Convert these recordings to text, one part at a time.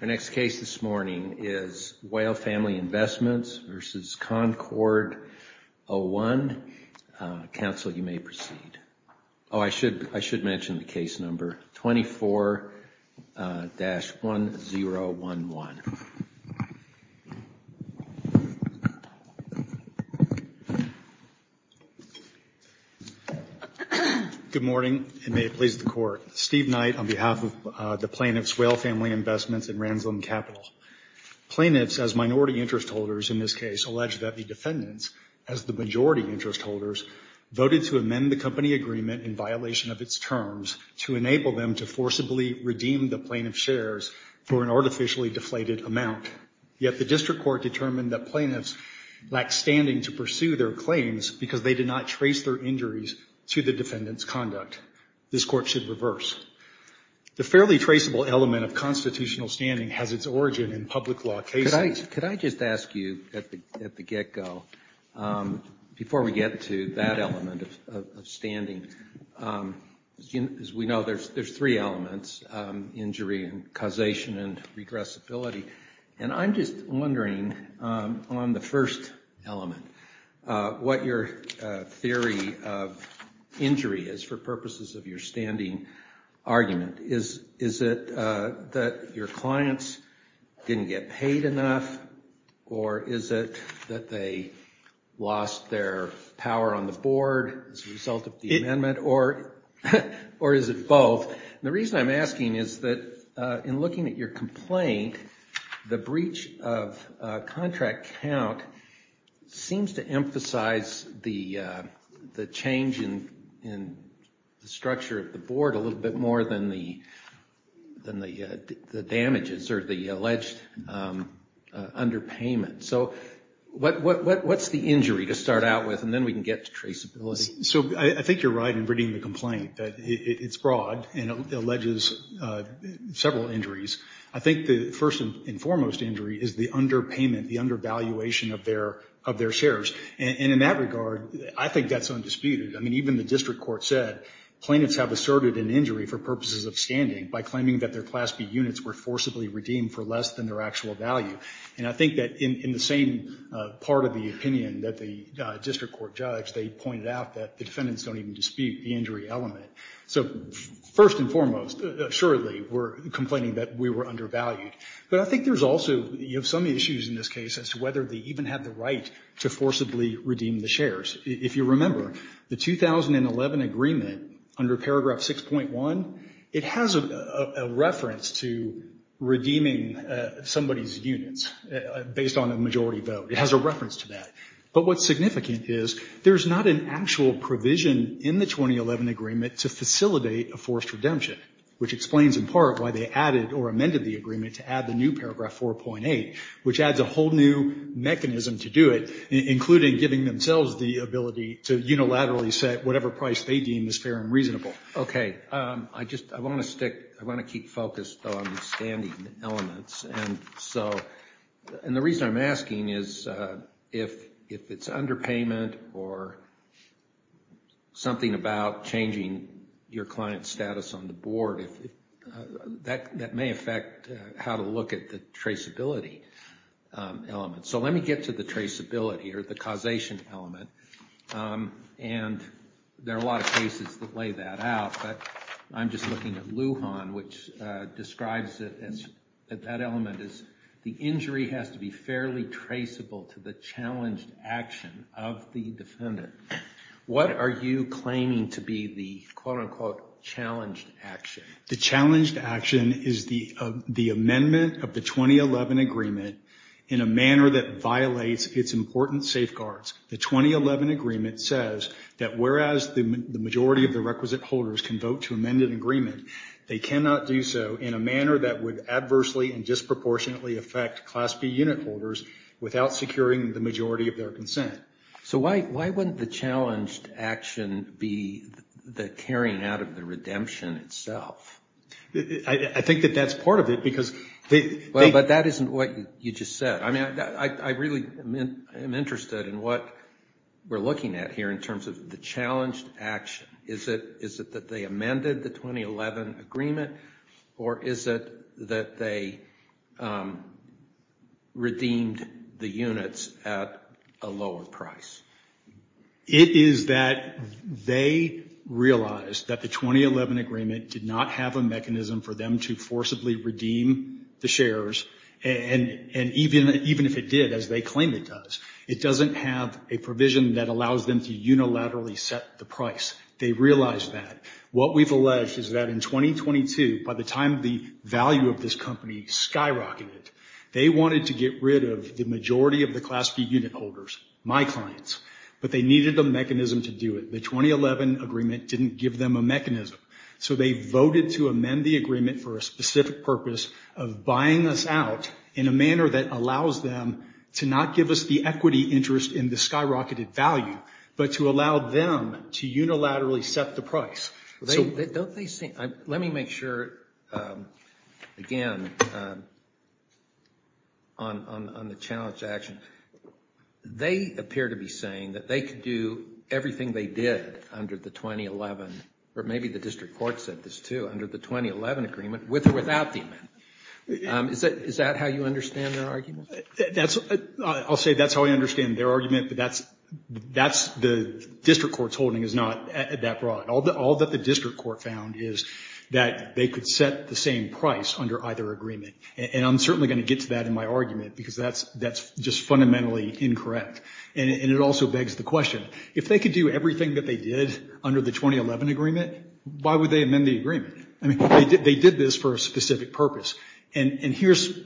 Our next case this morning is Whale Family Investments v. Concord01. Counsel, you may proceed. Oh, I should mention the case number 24-1011. Good morning, and may it please the Court. Steve Knight on behalf of the Plaintiffs' Whale Family Investments in Ransom Capital. Plaintiffs, as minority interest holders in this case, allege that the defendants, as the majority interest holders, voted to amend the company agreement in violation of its terms to enable them to forcibly redeem the plaintiff's shares for an artificially deflated amount. Yet the district court determined that plaintiffs lacked standing to pursue their claims because they did not trace their injuries to the defendant's conduct. This Court should reverse. The fairly traceable element of constitutional standing has its origin in public law cases. Could I just ask you at the get-go, before we get to that element of standing, as we know, there's three elements, injury and causation and regressibility. And I'm just wondering on the first element what your theory of injury is for purposes of your standing argument. Is it that your clients didn't get paid enough, or is it that they lost their power on the board as a result of the amendment, or is it both? The reason I'm asking is that in looking at your complaint, the breach of contract count seems to emphasize the change in the structure of the board a little bit more than the damages or the alleged underpayment. So what's the injury to start out with, and then we can get to traceability. So I think you're right in reading the complaint. It's broad and it alleges several injuries. I think the first and foremost injury is the underpayment, the undervaluation of their shares. And in that regard, I think that's undisputed. I mean, even the district court said plaintiffs have asserted an injury for purposes of standing by claiming that their Class B units were forcibly redeemed for less than their actual value. And I think that in the same part of the opinion that the district court judge, they pointed out that the defendants don't even dispute the injury element. So first and foremost, assuredly, we're complaining that we were undervalued. But I think there's also some issues in this case as to whether they even had the right to forcibly redeem the shares. If you remember, the 2011 agreement under paragraph 6.1, it has a reference to redeeming somebody's units based on a majority vote. It has a reference to that. But what's significant is there's not an actual provision in the 2011 agreement to facilitate a forced redemption, which explains in part why they added or amended the agreement to add the new paragraph 4.8, which adds a whole new mechanism to do it, including giving themselves the ability to unilaterally set whatever price they deem is fair and reasonable. Okay. I want to keep focused on the standing elements. And the reason I'm asking is if it's underpayment or something about changing your client's status on the board, that may affect how to look at the traceability element. So let me get to the traceability or the causation element. And there are a lot of cases that lay that out, but I'm just looking at Lujan, which describes it as that element is the injury has to be fairly traceable to the challenged action of the defendant. What are you claiming to be the quote-unquote challenged action? The challenged action is the amendment of the 2011 agreement in a manner that violates its important safeguards. The 2011 agreement says that whereas the majority of the requisite holders can vote to amend an agreement, they cannot do so in a manner that would adversely and disproportionately affect Class B unit holders without securing the majority of their consent. So why wouldn't the challenged action be the carrying out of the redemption itself? I think that that's part of it because they... But that isn't what you just said. I mean, I really am interested in what we're looking at here in terms of the challenged action. Is it that they amended the 2011 agreement, or is it that they redeemed the units at a lower price? It is that they realized that the 2011 agreement did not have a mechanism for them to forcibly redeem the shares, and even if it did, as they claim it does, it doesn't have a provision that allows them to unilaterally set the price. They realized that. What we've alleged is that in 2022, by the time the value of this company skyrocketed, they wanted to get rid of the majority of the Class B unit holders, my clients, but they needed a mechanism to do it. The 2011 agreement didn't give them a mechanism. So they voted to amend the agreement for a specific purpose of buying us out in a manner that allows them to not give us the equity interest in the skyrocketed value, but to allow them to unilaterally set the price. Let me make sure, again, on the challenged action. They appear to be saying that they could do everything they did under the 2011, or maybe the district court said this too, under the 2011 agreement, with or without the amendment. Is that how you understand their argument? I'll say that's how I understand their argument, but the district court's holding is not that broad. All that the district court found is that they could set the same price under either agreement, and I'm certainly going to get to that in my argument because that's just fundamentally incorrect, and it also begs the question, if they could do everything that they did under the 2011 agreement, why would they amend the agreement? I mean, they did this for a specific purpose, and here's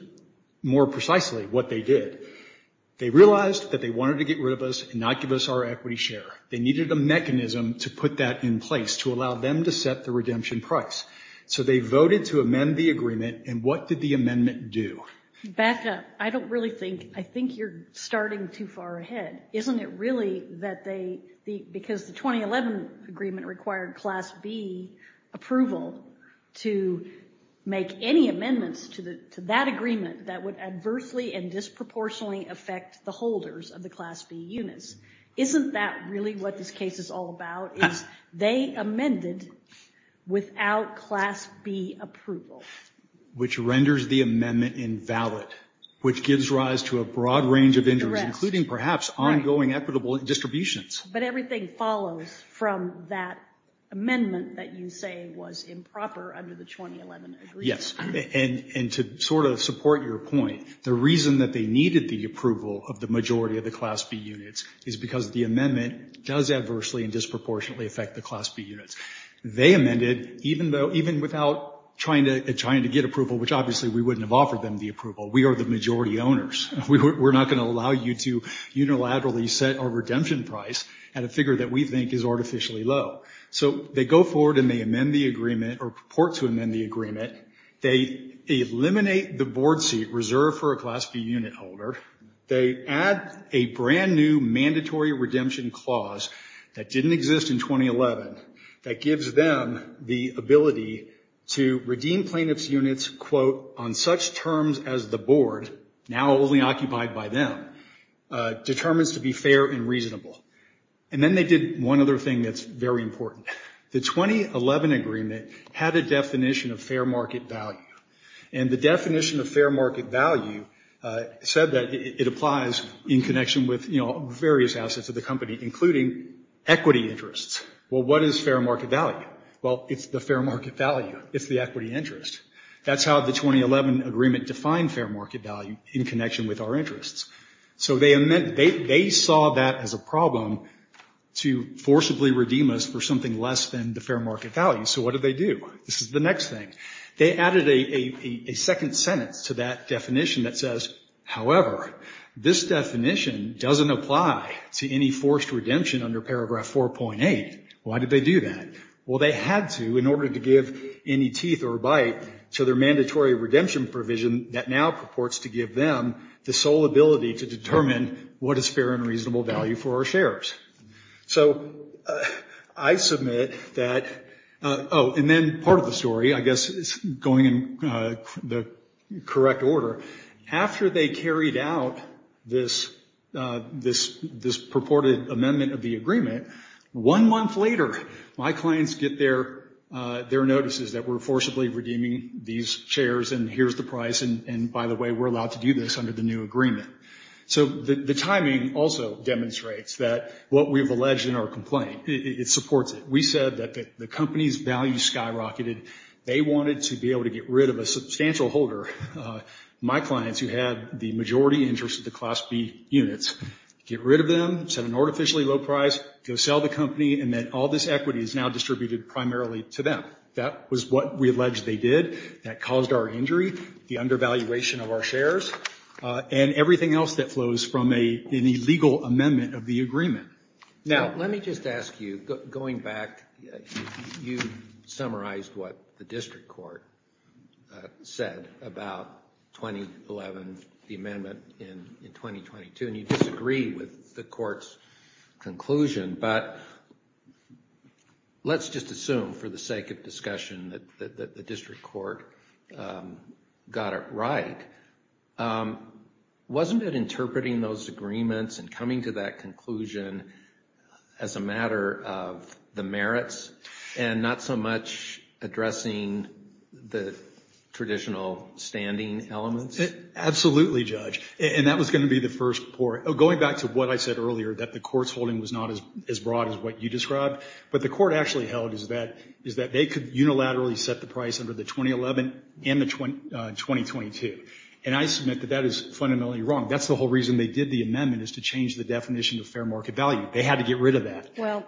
more precisely what they did. They realized that they wanted to get rid of us and not give us our equity share. They needed a mechanism to put that in place to allow them to set the redemption price. So they voted to amend the agreement, and what did the amendment do? Becca, I don't really think, I think you're starting too far ahead. Isn't it really that they, because the 2011 agreement required Class B approval to make any amendments to that agreement that would adversely and disproportionately affect the holders of the Class B units. Isn't that really what this case is all about, is they amended without Class B approval? Which renders the amendment invalid, which gives rise to a broad range of injuries, including perhaps ongoing equitable distributions. But everything follows from that amendment that you say was improper under the 2011 agreement. Yes, and to sort of support your point, the reason that they needed the approval of the majority of the Class B units is because the amendment does adversely and disproportionately affect the Class B units. They amended even without trying to get approval, which obviously we wouldn't have offered them the approval. We are the majority owners. We're not going to allow you to unilaterally set our redemption price at a figure that we think is artificially low. So they go forward and they amend the agreement, or purport to amend the agreement. They eliminate the board seat reserved for a Class B unit holder. They add a brand new mandatory redemption clause that didn't exist in 2011 that gives them the ability to redeem plaintiff's units, quote, on such terms as the board, now only occupied by them, determines to be fair and reasonable. And then they did one other thing that's very important. The 2011 agreement had a definition of fair market value. And the definition of fair market value said that it applies in connection with, you know, various assets of the company, including equity interests. Well, what is fair market value? Well, it's the fair market value. It's the equity interest. That's how the 2011 agreement defined fair market value in connection with our interests. So they saw that as a problem to forcibly redeem us for something less than the fair market value. So what did they do? This is the next thing. They added a second sentence to that definition that says, However, this definition doesn't apply to any forced redemption under Paragraph 4.8. Why did they do that? Well, they had to in order to give any teeth or bite to their mandatory redemption provision that now purports to give them the sole ability to determine what is fair and reasonable value for our shares. So I submit that, oh, and then part of the story, I guess, is going in the correct order. After they carried out this purported amendment of the agreement, one month later my clients get their notices that we're forcibly redeeming these shares and here's the price and, by the way, we're allowed to do this under the new agreement. So the timing also demonstrates that what we've alleged in our complaint, it supports it. We said that the company's value skyrocketed. They wanted to be able to get rid of a substantial holder, my clients, who had the majority interest of the Class B units, get rid of them, set an artificially low price, go sell the company, and that all this equity is now distributed primarily to them. That was what we alleged they did. That caused our injury, the undervaluation of our shares, and everything else that flows from an illegal amendment of the agreement. Now, let me just ask you, going back, you summarized what the district court said about 2011, the amendment in 2022, and you disagree with the court's conclusion, but let's just assume for the sake of discussion that the district court got it right. Wasn't it interpreting those agreements and coming to that conclusion as a matter of the merits and not so much addressing the traditional standing elements? Absolutely, Judge, and that was going to be the first report. Going back to what I said earlier, that the court's holding was not as broad as what you described, but the court actually held is that they could unilaterally set the price under the 2011 and the 2022, and I submit that that is fundamentally wrong. That's the whole reason they did the amendment is to change the definition of fair market value. They had to get rid of that. Well,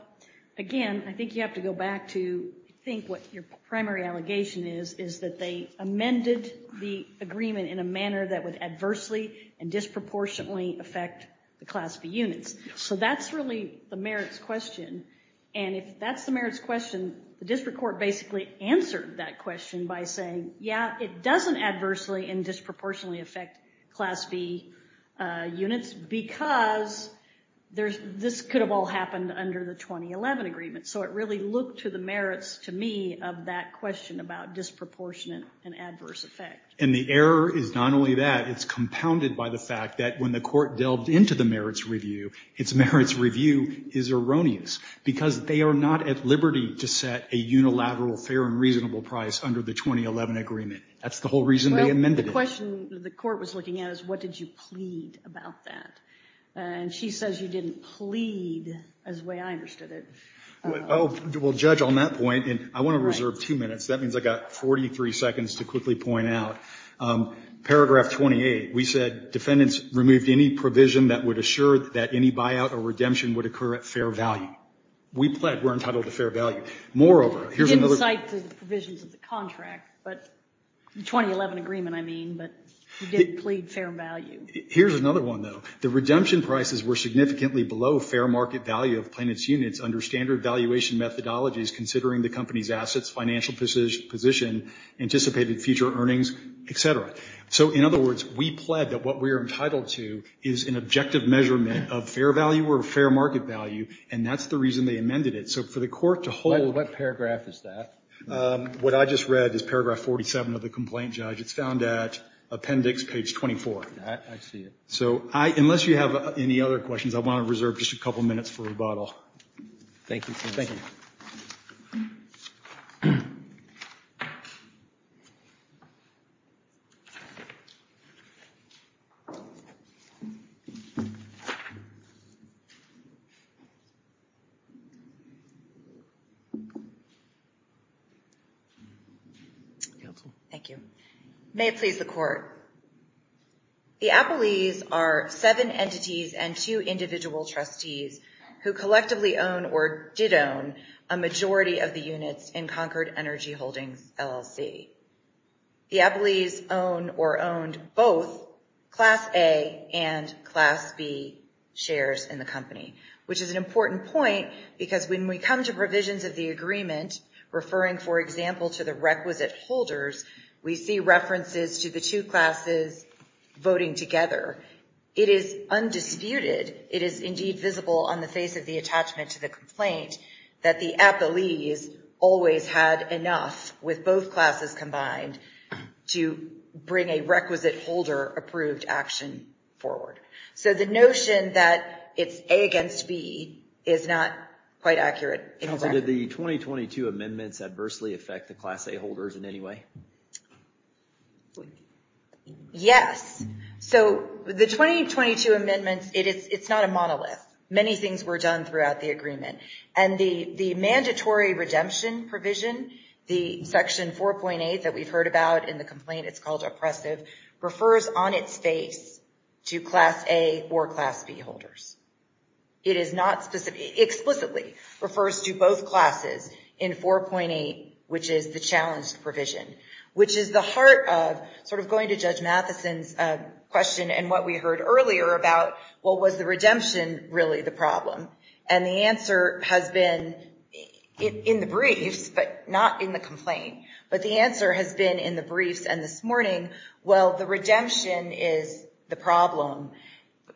again, I think you have to go back to I think what your primary allegation is is that they amended the agreement in a manner that would adversely and disproportionately affect the Class B units, so that's really the merits question, and if that's the merits question, the district court basically answered that question by saying, yeah, it doesn't adversely and disproportionately affect Class B units because this could have all happened under the 2011 agreement, so it really looked to the merits to me of that question about disproportionate and adverse effect. And the error is not only that. It's compounded by the fact that when the court delved into the merits review, its merits review is erroneous because they are not at liberty to set a unilateral fair and reasonable price under the 2011 agreement. That's the whole reason they amended it. Well, the question the court was looking at is what did you plead about that, and she says you didn't plead as the way I understood it. Well, Judge, on that point, I want to reserve two minutes. That means I've got 43 seconds to quickly point out. Paragraph 28, we said defendants removed any provision that would assure that any buyout or redemption would occur at fair value. We pled we're entitled to fair value. Moreover, here's another one. You didn't cite the provisions of the contract, the 2011 agreement, I mean, but you did plead fair value. Here's another one, though. The redemption prices were significantly below fair market value of plaintiff's units under standard valuation methodologies considering the company's assets, financial position, anticipated future earnings, et cetera. So, in other words, we pled that what we are entitled to is an objective measurement of fair value or fair market value, and that's the reason they amended it. So for the court to hold What paragraph is that? What I just read is paragraph 47 of the complaint, Judge. It's found at appendix page 24. I see it. So unless you have any other questions, I want to reserve just a couple minutes for rebuttal. Thank you, sir. Thank you. Thank you. Thank you. May it please the court. The Appellees are seven entities and two individual trustees who collectively own or did own a majority of the units in Concord Energy Holdings, LLC. The Appellees own or owned both Class A and Class B shares in the company, which is an important point because when we come to provisions of the agreement, referring, for example, to the requisite holders, we see references to the two classes voting together. It is undisputed, it is indeed visible on the face of the attachment to the complaint, that the Appellees always had enough with both classes combined to bring a requisite holder approved action forward. So the notion that it's A against B is not quite accurate. Counsel, did the 2022 amendments adversely affect the Class A holders in any way? Yes. So the 2022 amendments, it's not a monolith. Many things were done throughout the agreement. And the mandatory redemption provision, the Section 4.8 that we've heard about in the complaint, it's called oppressive, refers on its face to Class A or Class B holders. It explicitly refers to both classes in 4.8, which is the challenged provision, which is the heart of going to Judge Mathison's question and what we heard earlier about, well, was the redemption really the problem? And the answer has been in the briefs, but not in the complaint. But the answer has been in the briefs and this morning, well, the redemption is the problem.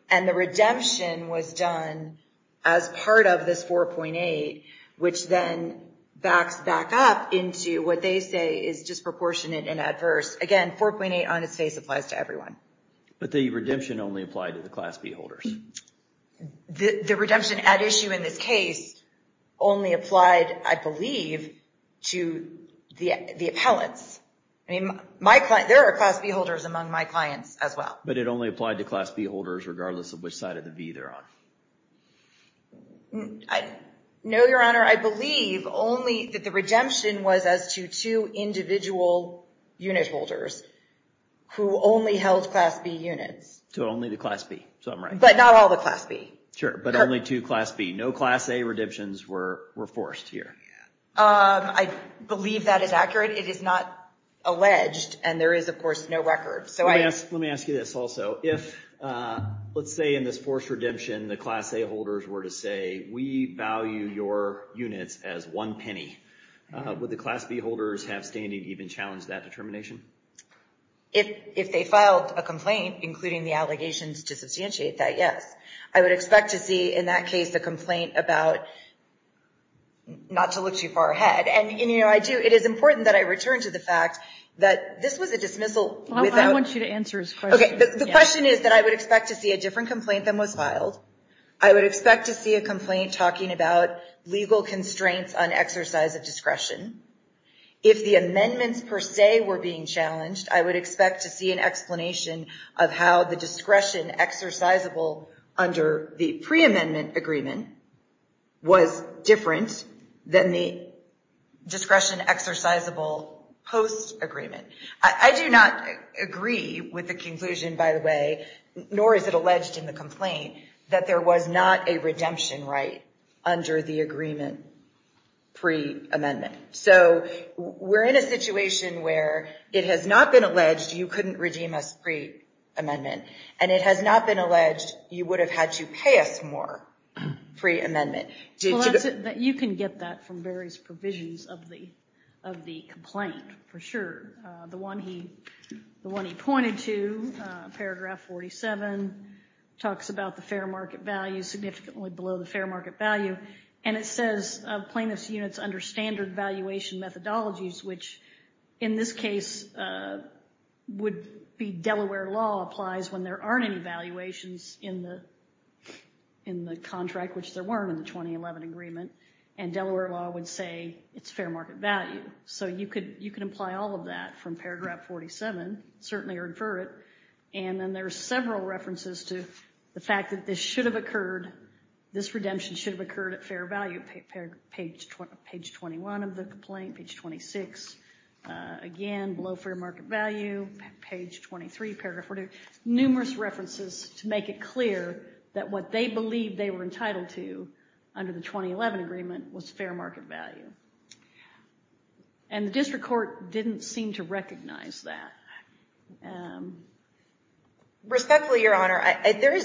And the redemption was done as part of this 4.8, which then backs back up into what they say is disproportionate and adverse. Again, 4.8 on its face applies to everyone. But the redemption only applied to the Class B holders. The redemption at issue in this case only applied, I believe, to the appellants. I mean, there are Class B holders among my clients as well. But it only applied to Class B holders, regardless of which side of the V they're on. No, Your Honor. I believe only that the redemption was as to two individual unit holders who only held Class B units. So only the Class B, so I'm right. But not all the Class B. Sure, but only two Class B. No Class A redemptions were forced here. I believe that is accurate. It is not alleged and there is, of course, no record. Let me ask you this also. If, let's say, in this forced redemption, the Class A holders were to say, we value your units as one penny. Would the Class B holders have standing to even challenge that determination? If they filed a complaint, including the allegations to substantiate that, yes. I would expect to see in that case a complaint about not to look too far ahead. And it is important that I return to the fact that this was a dismissal I want you to answer his question. Okay, the question is that I would expect to see a different complaint than was filed. I would expect to see a complaint talking about legal constraints on exercise of discretion. If the amendments per se were being challenged, I would expect to see an explanation of how the discretion exercisable under the pre-amendment agreement was different than the discretion exercisable post-agreement. I do not agree with the conclusion, by the way, nor is it alleged in the complaint, that there was not a redemption right under the agreement pre-amendment. So we're in a situation where it has not been alleged you couldn't redeem us pre-amendment, and it has not been alleged you would have had to pay us more pre-amendment. You can get that from various provisions of the complaint, for sure. The one he pointed to, paragraph 47, talks about the fair market value, significantly below the fair market value, and it says plaintiffs' units under standard valuation methodologies, which in this case would be Delaware law applies when there aren't any valuations in the contract, which there weren't in the 2011 agreement, and Delaware law would say it's fair market value. So you could imply all of that from paragraph 47, certainly, or infer it. And then there are several references to the fact that this redemption should have occurred at fair value, page 21 of the complaint, page 26, again, below fair market value, page 23, paragraph 42, numerous references to make it clear that what they believed they were entitled to under the 2011 agreement was fair market value. And the district court didn't seem to recognize that. Respectfully, Your Honor, there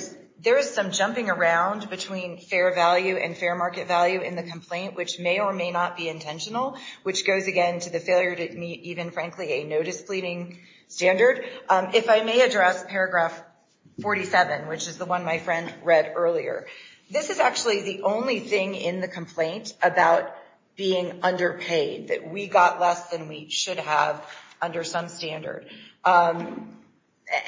is some jumping around between fair value and fair market value in the complaint, which may or may not be intentional, which goes again to the failure to meet even, frankly, a notice pleading standard. If I may address paragraph 47, which is the one my friend read earlier, this is actually the only thing in the complaint about being underpaid, that we got less than we should have under some standard. And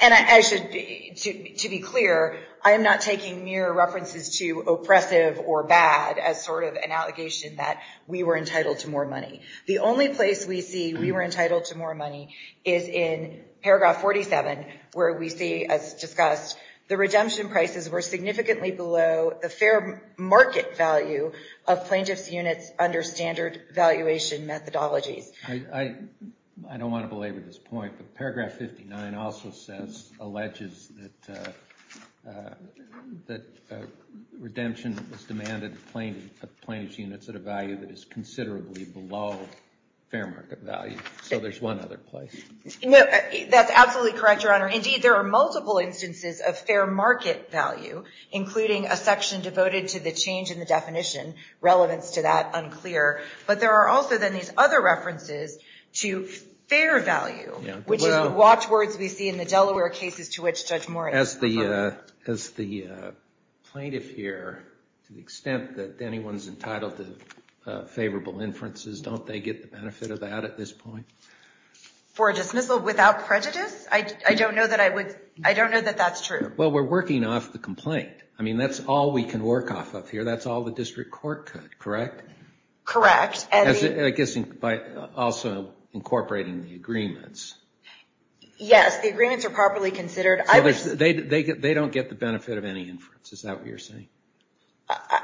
to be clear, I am not taking mere references to oppressive or bad as sort of an allegation that we were entitled to more money. The only place we see we were entitled to more money is in paragraph 47, where we see, as discussed, the redemption prices were significantly below the fair market value of plaintiff's units under standard valuation methodologies. I don't want to belabor this point, but paragraph 59 also says, alleges that redemption was demanded of plaintiff's units at a value that is considerably below fair market value. So there's one other place. That's absolutely correct, Your Honor. Indeed, there are multiple instances of fair market value, including a section devoted to the change in the definition, relevance to that unclear. But there are also, then, these other references to fair value, which is the watchwords we see in the Delaware cases to which Judge Moore is referring. As the plaintiff here, to the extent that anyone's entitled to favorable inferences, don't they get the benefit of that at this point? For a dismissal without prejudice? I don't know that that's true. Well, we're working off the complaint. I mean, that's all we can work off of here. That's all the district court could. Correct? I guess by also incorporating the agreements. Yes, the agreements are properly considered. They don't get the benefit of any inference. Is that what you're saying?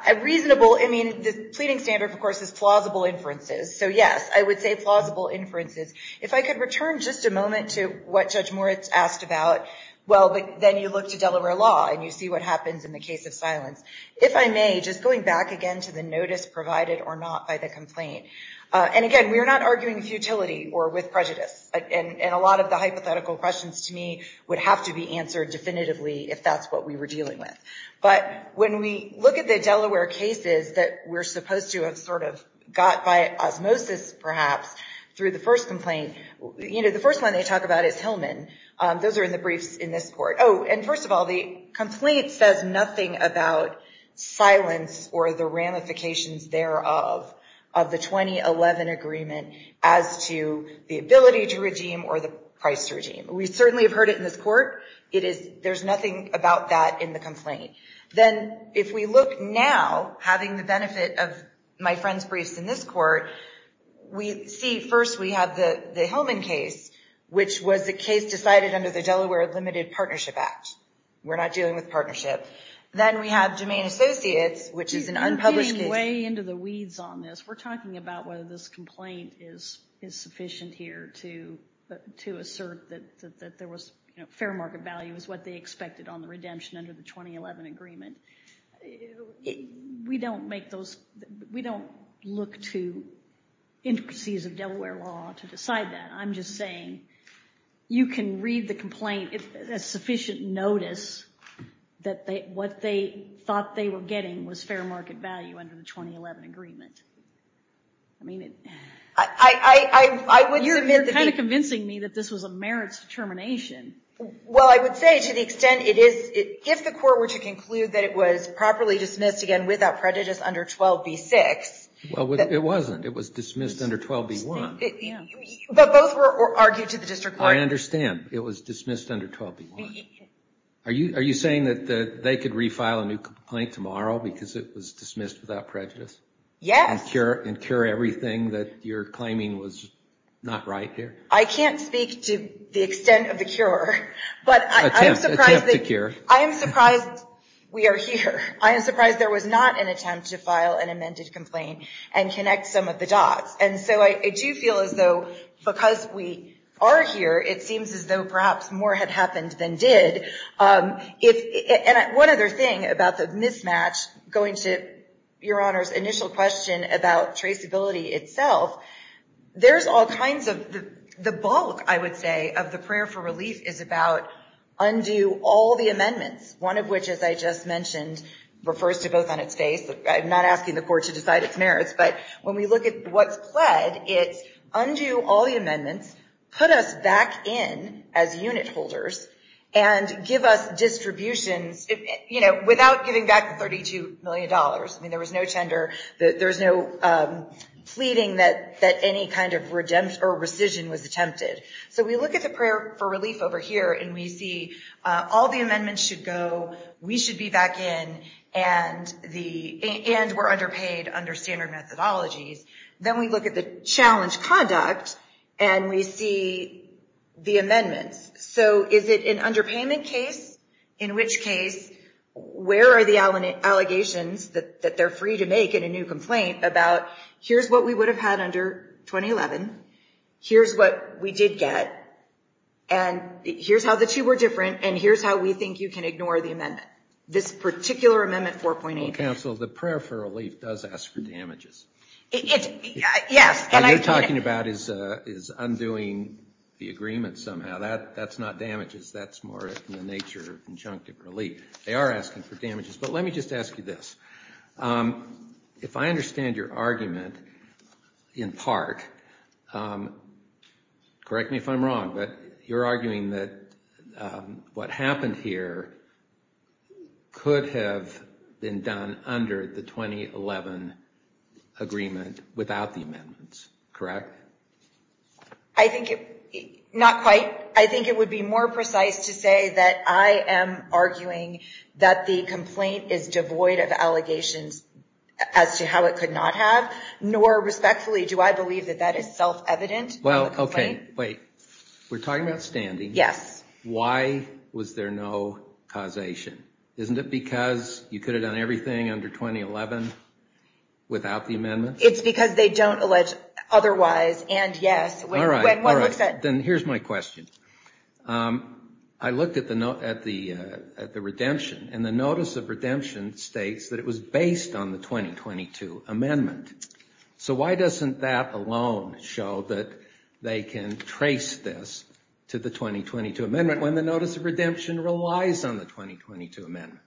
A reasonable, I mean, the pleading standard, of course, is plausible inferences. So, yes, I would say plausible inferences. If I could return just a moment to what Judge Moore asked about, well, then you look to Delaware law and you see what happens in the case of silence. If I may, just going back again to the notice provided or not by the complaint. And again, we are not arguing futility or with prejudice. And a lot of the hypothetical questions to me would have to be answered definitively if that's what we were dealing with. But when we look at the Delaware cases that we're supposed to have sort of got by osmosis, perhaps, through the first complaint, you know, the first one they talk about is Hillman. Those are in the briefs in this court. Oh, and first of all, the complaint says nothing about silence or the ramifications thereof of the 2011 agreement as to the ability to redeem or the price to redeem. We certainly have heard it in this court. There's nothing about that in the complaint. Then if we look now, having the benefit of my friend's briefs in this court, we see first we have the Hillman case, which was the case decided under the Delaware Limited Partnership Act. We're not dealing with partnership. Then we have Jemaine Associates, which is an unpublished case. You're getting way into the weeds on this. We're talking about whether this complaint is sufficient here to assert that there was, you know, fair market value is what they expected on the redemption under the 2011 agreement. We don't make those – we don't look to intricacies of Delaware law to decide that. I'm just saying you can read the complaint as sufficient notice that what they thought they were getting was fair market value under the 2011 agreement. I mean, it – I would – You're kind of convincing me that this was a merits determination. Well, I would say to the extent it is, if the court were to conclude that it was properly dismissed again without prejudice under 12b-6 – Well, it wasn't. It was dismissed under 12b-1. But both were argued to the district court. I understand. It was dismissed under 12b-1. Are you saying that they could refile a new complaint tomorrow because it was dismissed without prejudice? Yes. And cure everything that you're claiming was not right here? I can't speak to the extent of the cure, but I am surprised – Attempt to cure. I am surprised we are here. I am surprised there was not an attempt to file an amended complaint and connect some of the dots. And so I do feel as though because we are here, it seems as though perhaps more had happened than did. And one other thing about the mismatch, going to Your Honor's initial question about traceability itself, there's all kinds of – the bulk, I would say, of the prayer for relief is about undo all the amendments, one of which, as I just mentioned, refers to both on its face. I'm not asking the court to decide its merits. But when we look at what's pled, it's undo all the amendments, put us back in as unit holders, and give us distributions without giving back the $32 million. I mean, there was no tender. There was no pleading that any kind of redemption or rescission was attempted. So we look at the prayer for relief over here, and we see all the amendments should go, we should be back in, and were underpaid under standard methodologies. Then we look at the challenge conduct, and we see the amendments. So is it an underpayment case? In which case, where are the allegations that they're free to make in a new complaint about, here's what we would have had under 2011, here's what we did get, and here's how the two were different, and here's how we think you can ignore the amendment. This particular amendment 4.8. Counsel, the prayer for relief does ask for damages. Yes. What you're talking about is undoing the agreement somehow. That's not damages. That's more in the nature of injunctive relief. They are asking for damages. But let me just ask you this. If I understand your argument in part, correct me if I'm wrong, but you're arguing that what happened here could have been done under the 2011 agreement without the amendments, correct? I think it would be more precise to say that I am arguing that the complaint is devoid of allegations as to how it could not have, nor respectfully do I believe that that is self-evident. Well, okay. Wait. We're talking about standing. Yes. Why was there no causation? Isn't it because you could have done everything under 2011 without the amendments? It's because they don't allege otherwise and yes. Then here's my question. I looked at the redemption, and the notice of redemption states that it was based on the 2022 amendment. So why doesn't that alone show that they can trace this to the 2022 amendment when the notice of redemption relies on the 2022 amendment?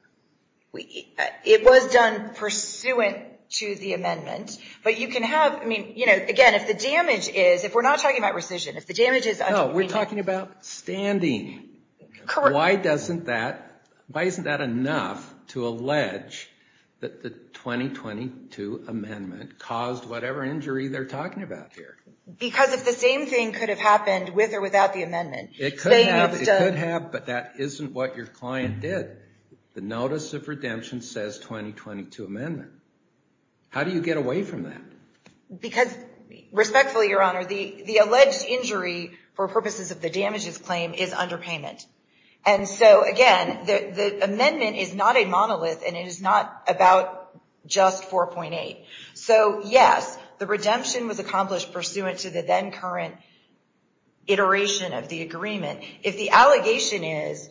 It was done pursuant to the amendment. But you can have, I mean, again, if the damage is, if we're not talking about rescission, if the damage is under the agreement. No, we're talking about standing. Correct. Why doesn't that, why isn't that enough to allege that the 2022 amendment caused whatever injury they're talking about here? Because if the same thing could have happened with or without the amendment. It could have, but that isn't what your client did. The notice of redemption says 2022 amendment. How do you get away from that? Because, respectfully, Your Honor, the alleged injury for purposes of the damages claim is underpayment. And so, again, the amendment is not a monolith and it is not about just 4.8. So, yes, the redemption was accomplished pursuant to the then current iteration of the agreement. If the allegation is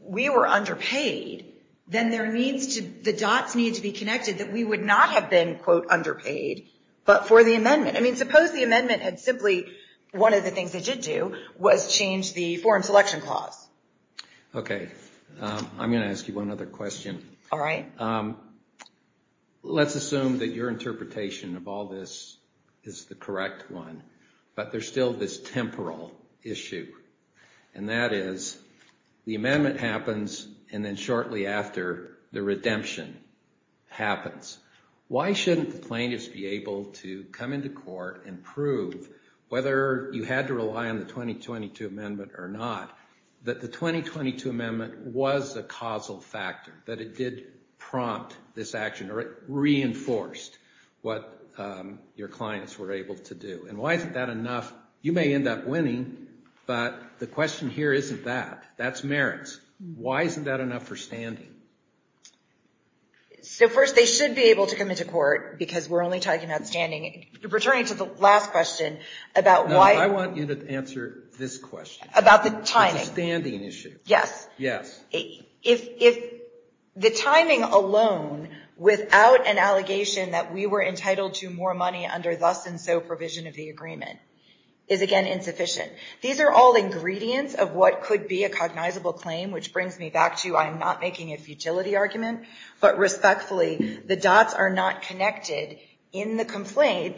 we were underpaid, then there needs to, the dots need to be connected that we would not have been, quote, underpaid, but for the amendment. I mean, suppose the amendment had simply, one of the things they did do was change the foreign selection clause. Okay. I'm going to ask you one other question. All right. Let's assume that your interpretation of all this is the correct one, but there's still this temporal issue. And that is the amendment happens. And then shortly after the redemption happens, why shouldn't the plaintiffs be able to come into court and prove whether you had to rely on the 2022 amendment or not? That the 2022 amendment was a causal factor, that it did prompt this action or it reinforced what your clients were able to do. And why isn't that enough? You may end up winning, but the question here isn't that. That's merits. Why isn't that enough for standing? So, first, they should be able to come into court because we're only talking about standing. Returning to the last question about why. No, I want you to answer this question. About the timing. It's a standing issue. Yes. Yes. If the timing alone, without an allegation that we were entitled to more money under thus and so provision of the agreement, is again insufficient. These are all ingredients of what could be a cognizable claim, which brings me back to I'm not making a futility argument. But respectfully, the dots are not connected in the complaint.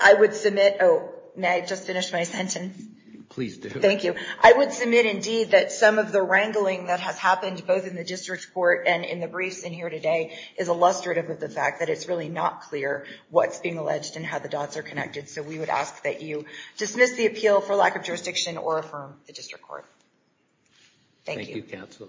I would submit, oh, may I just finish my sentence? Please do. Thank you. I would submit, indeed, that some of the wrangling that has happened both in the district court and in the briefs in here today is illustrative of the fact that it's really not clear what's being alleged and how the dots are connected. So we would ask that you dismiss the appeal for lack of jurisdiction or affirm the district court. Thank you. Thank you, counsel.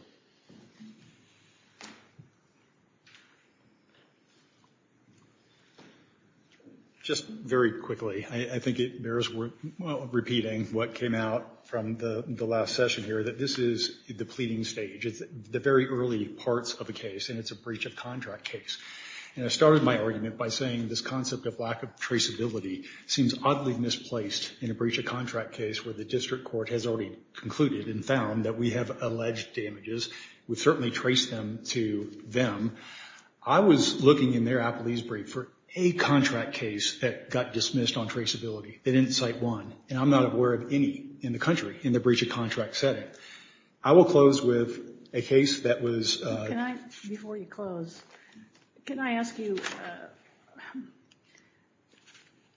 Just very quickly, I think it bears repeating what came out from the last session here, that this is the pleading stage. It's the very early parts of a case, and it's a breach of contract case. And I started my argument by saying this concept of lack of traceability seems oddly misplaced in a breach of contract case where the district court has already concluded and found that we have alleged damages. We've certainly traced them to them. I was looking in their appealese brief for a contract case that got dismissed on traceability. They didn't cite one. And I'm not aware of any in the country in the breach of contract setting. I will close with a case that was... Before you close, can I ask you,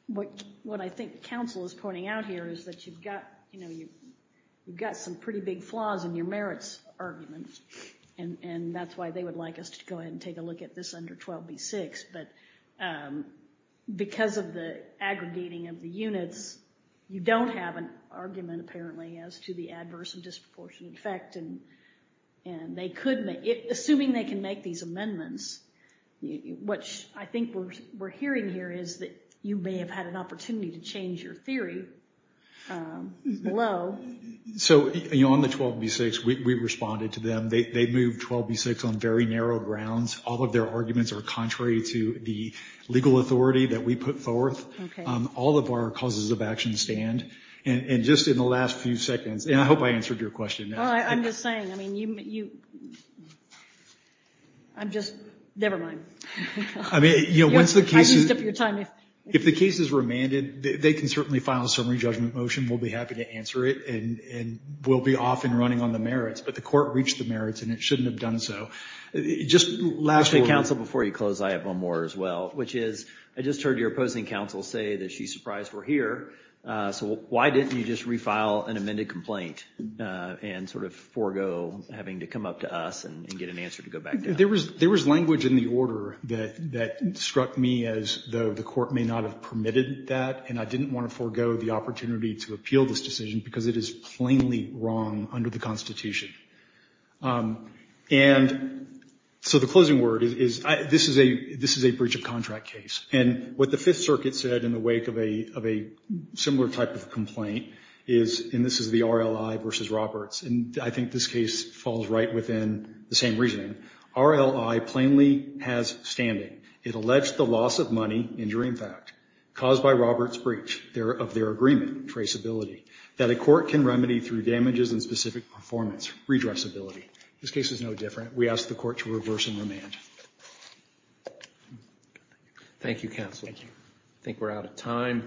what I think counsel is pointing out here is that you've got some pretty big flaws in your merits arguments. And that's why they would like us to go ahead and take a look at this under 12B6. But because of the aggregating of the units, you don't have an argument, apparently, as to the adverse and disproportionate effect. And assuming they can make these amendments, which I think we're hearing here is that you may have had an opportunity to change your theory below. So on the 12B6, we responded to them. They moved 12B6 on very narrow grounds. All of their arguments are contrary to the legal authority that we put forth. All of our causes of action stand. And just in the last few seconds... And I hope I answered your question. I'm just saying, I mean, you... I'm just... Never mind. I used up your time. If the case is remanded, they can certainly file a summary judgment motion. We'll be happy to answer it. And we'll be off and running on the merits. But the court reached the merits, and it shouldn't have done so. Just lastly... Counsel, before you close, I have one more as well, which is I just heard your opposing counsel say that she's surprised we're here. So why didn't you just refile an amended complaint and sort of forego having to come up to us and get an answer to go back down? There was language in the order that struck me as though the court may not have permitted that. And I didn't want to forego the opportunity to appeal this decision because it is plainly wrong under the Constitution. And so the closing word is this is a breach of contract case. And what the Fifth Circuit said in the wake of a similar type of complaint is, and this is the RLI versus Roberts, and I think this case falls right within the same reasoning. RLI plainly has standing. It alleged the loss of money, injuring fact, caused by Roberts' breach of their agreement, traceability, that a court can remedy through damages and specific performance, redressability. This case is no different. We ask the court to reverse and remand. Thank you, counsel. Thank you. I think we're out of time.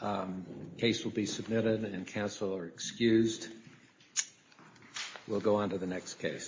The case will be submitted, and counsel are excused. We'll go on to the next case.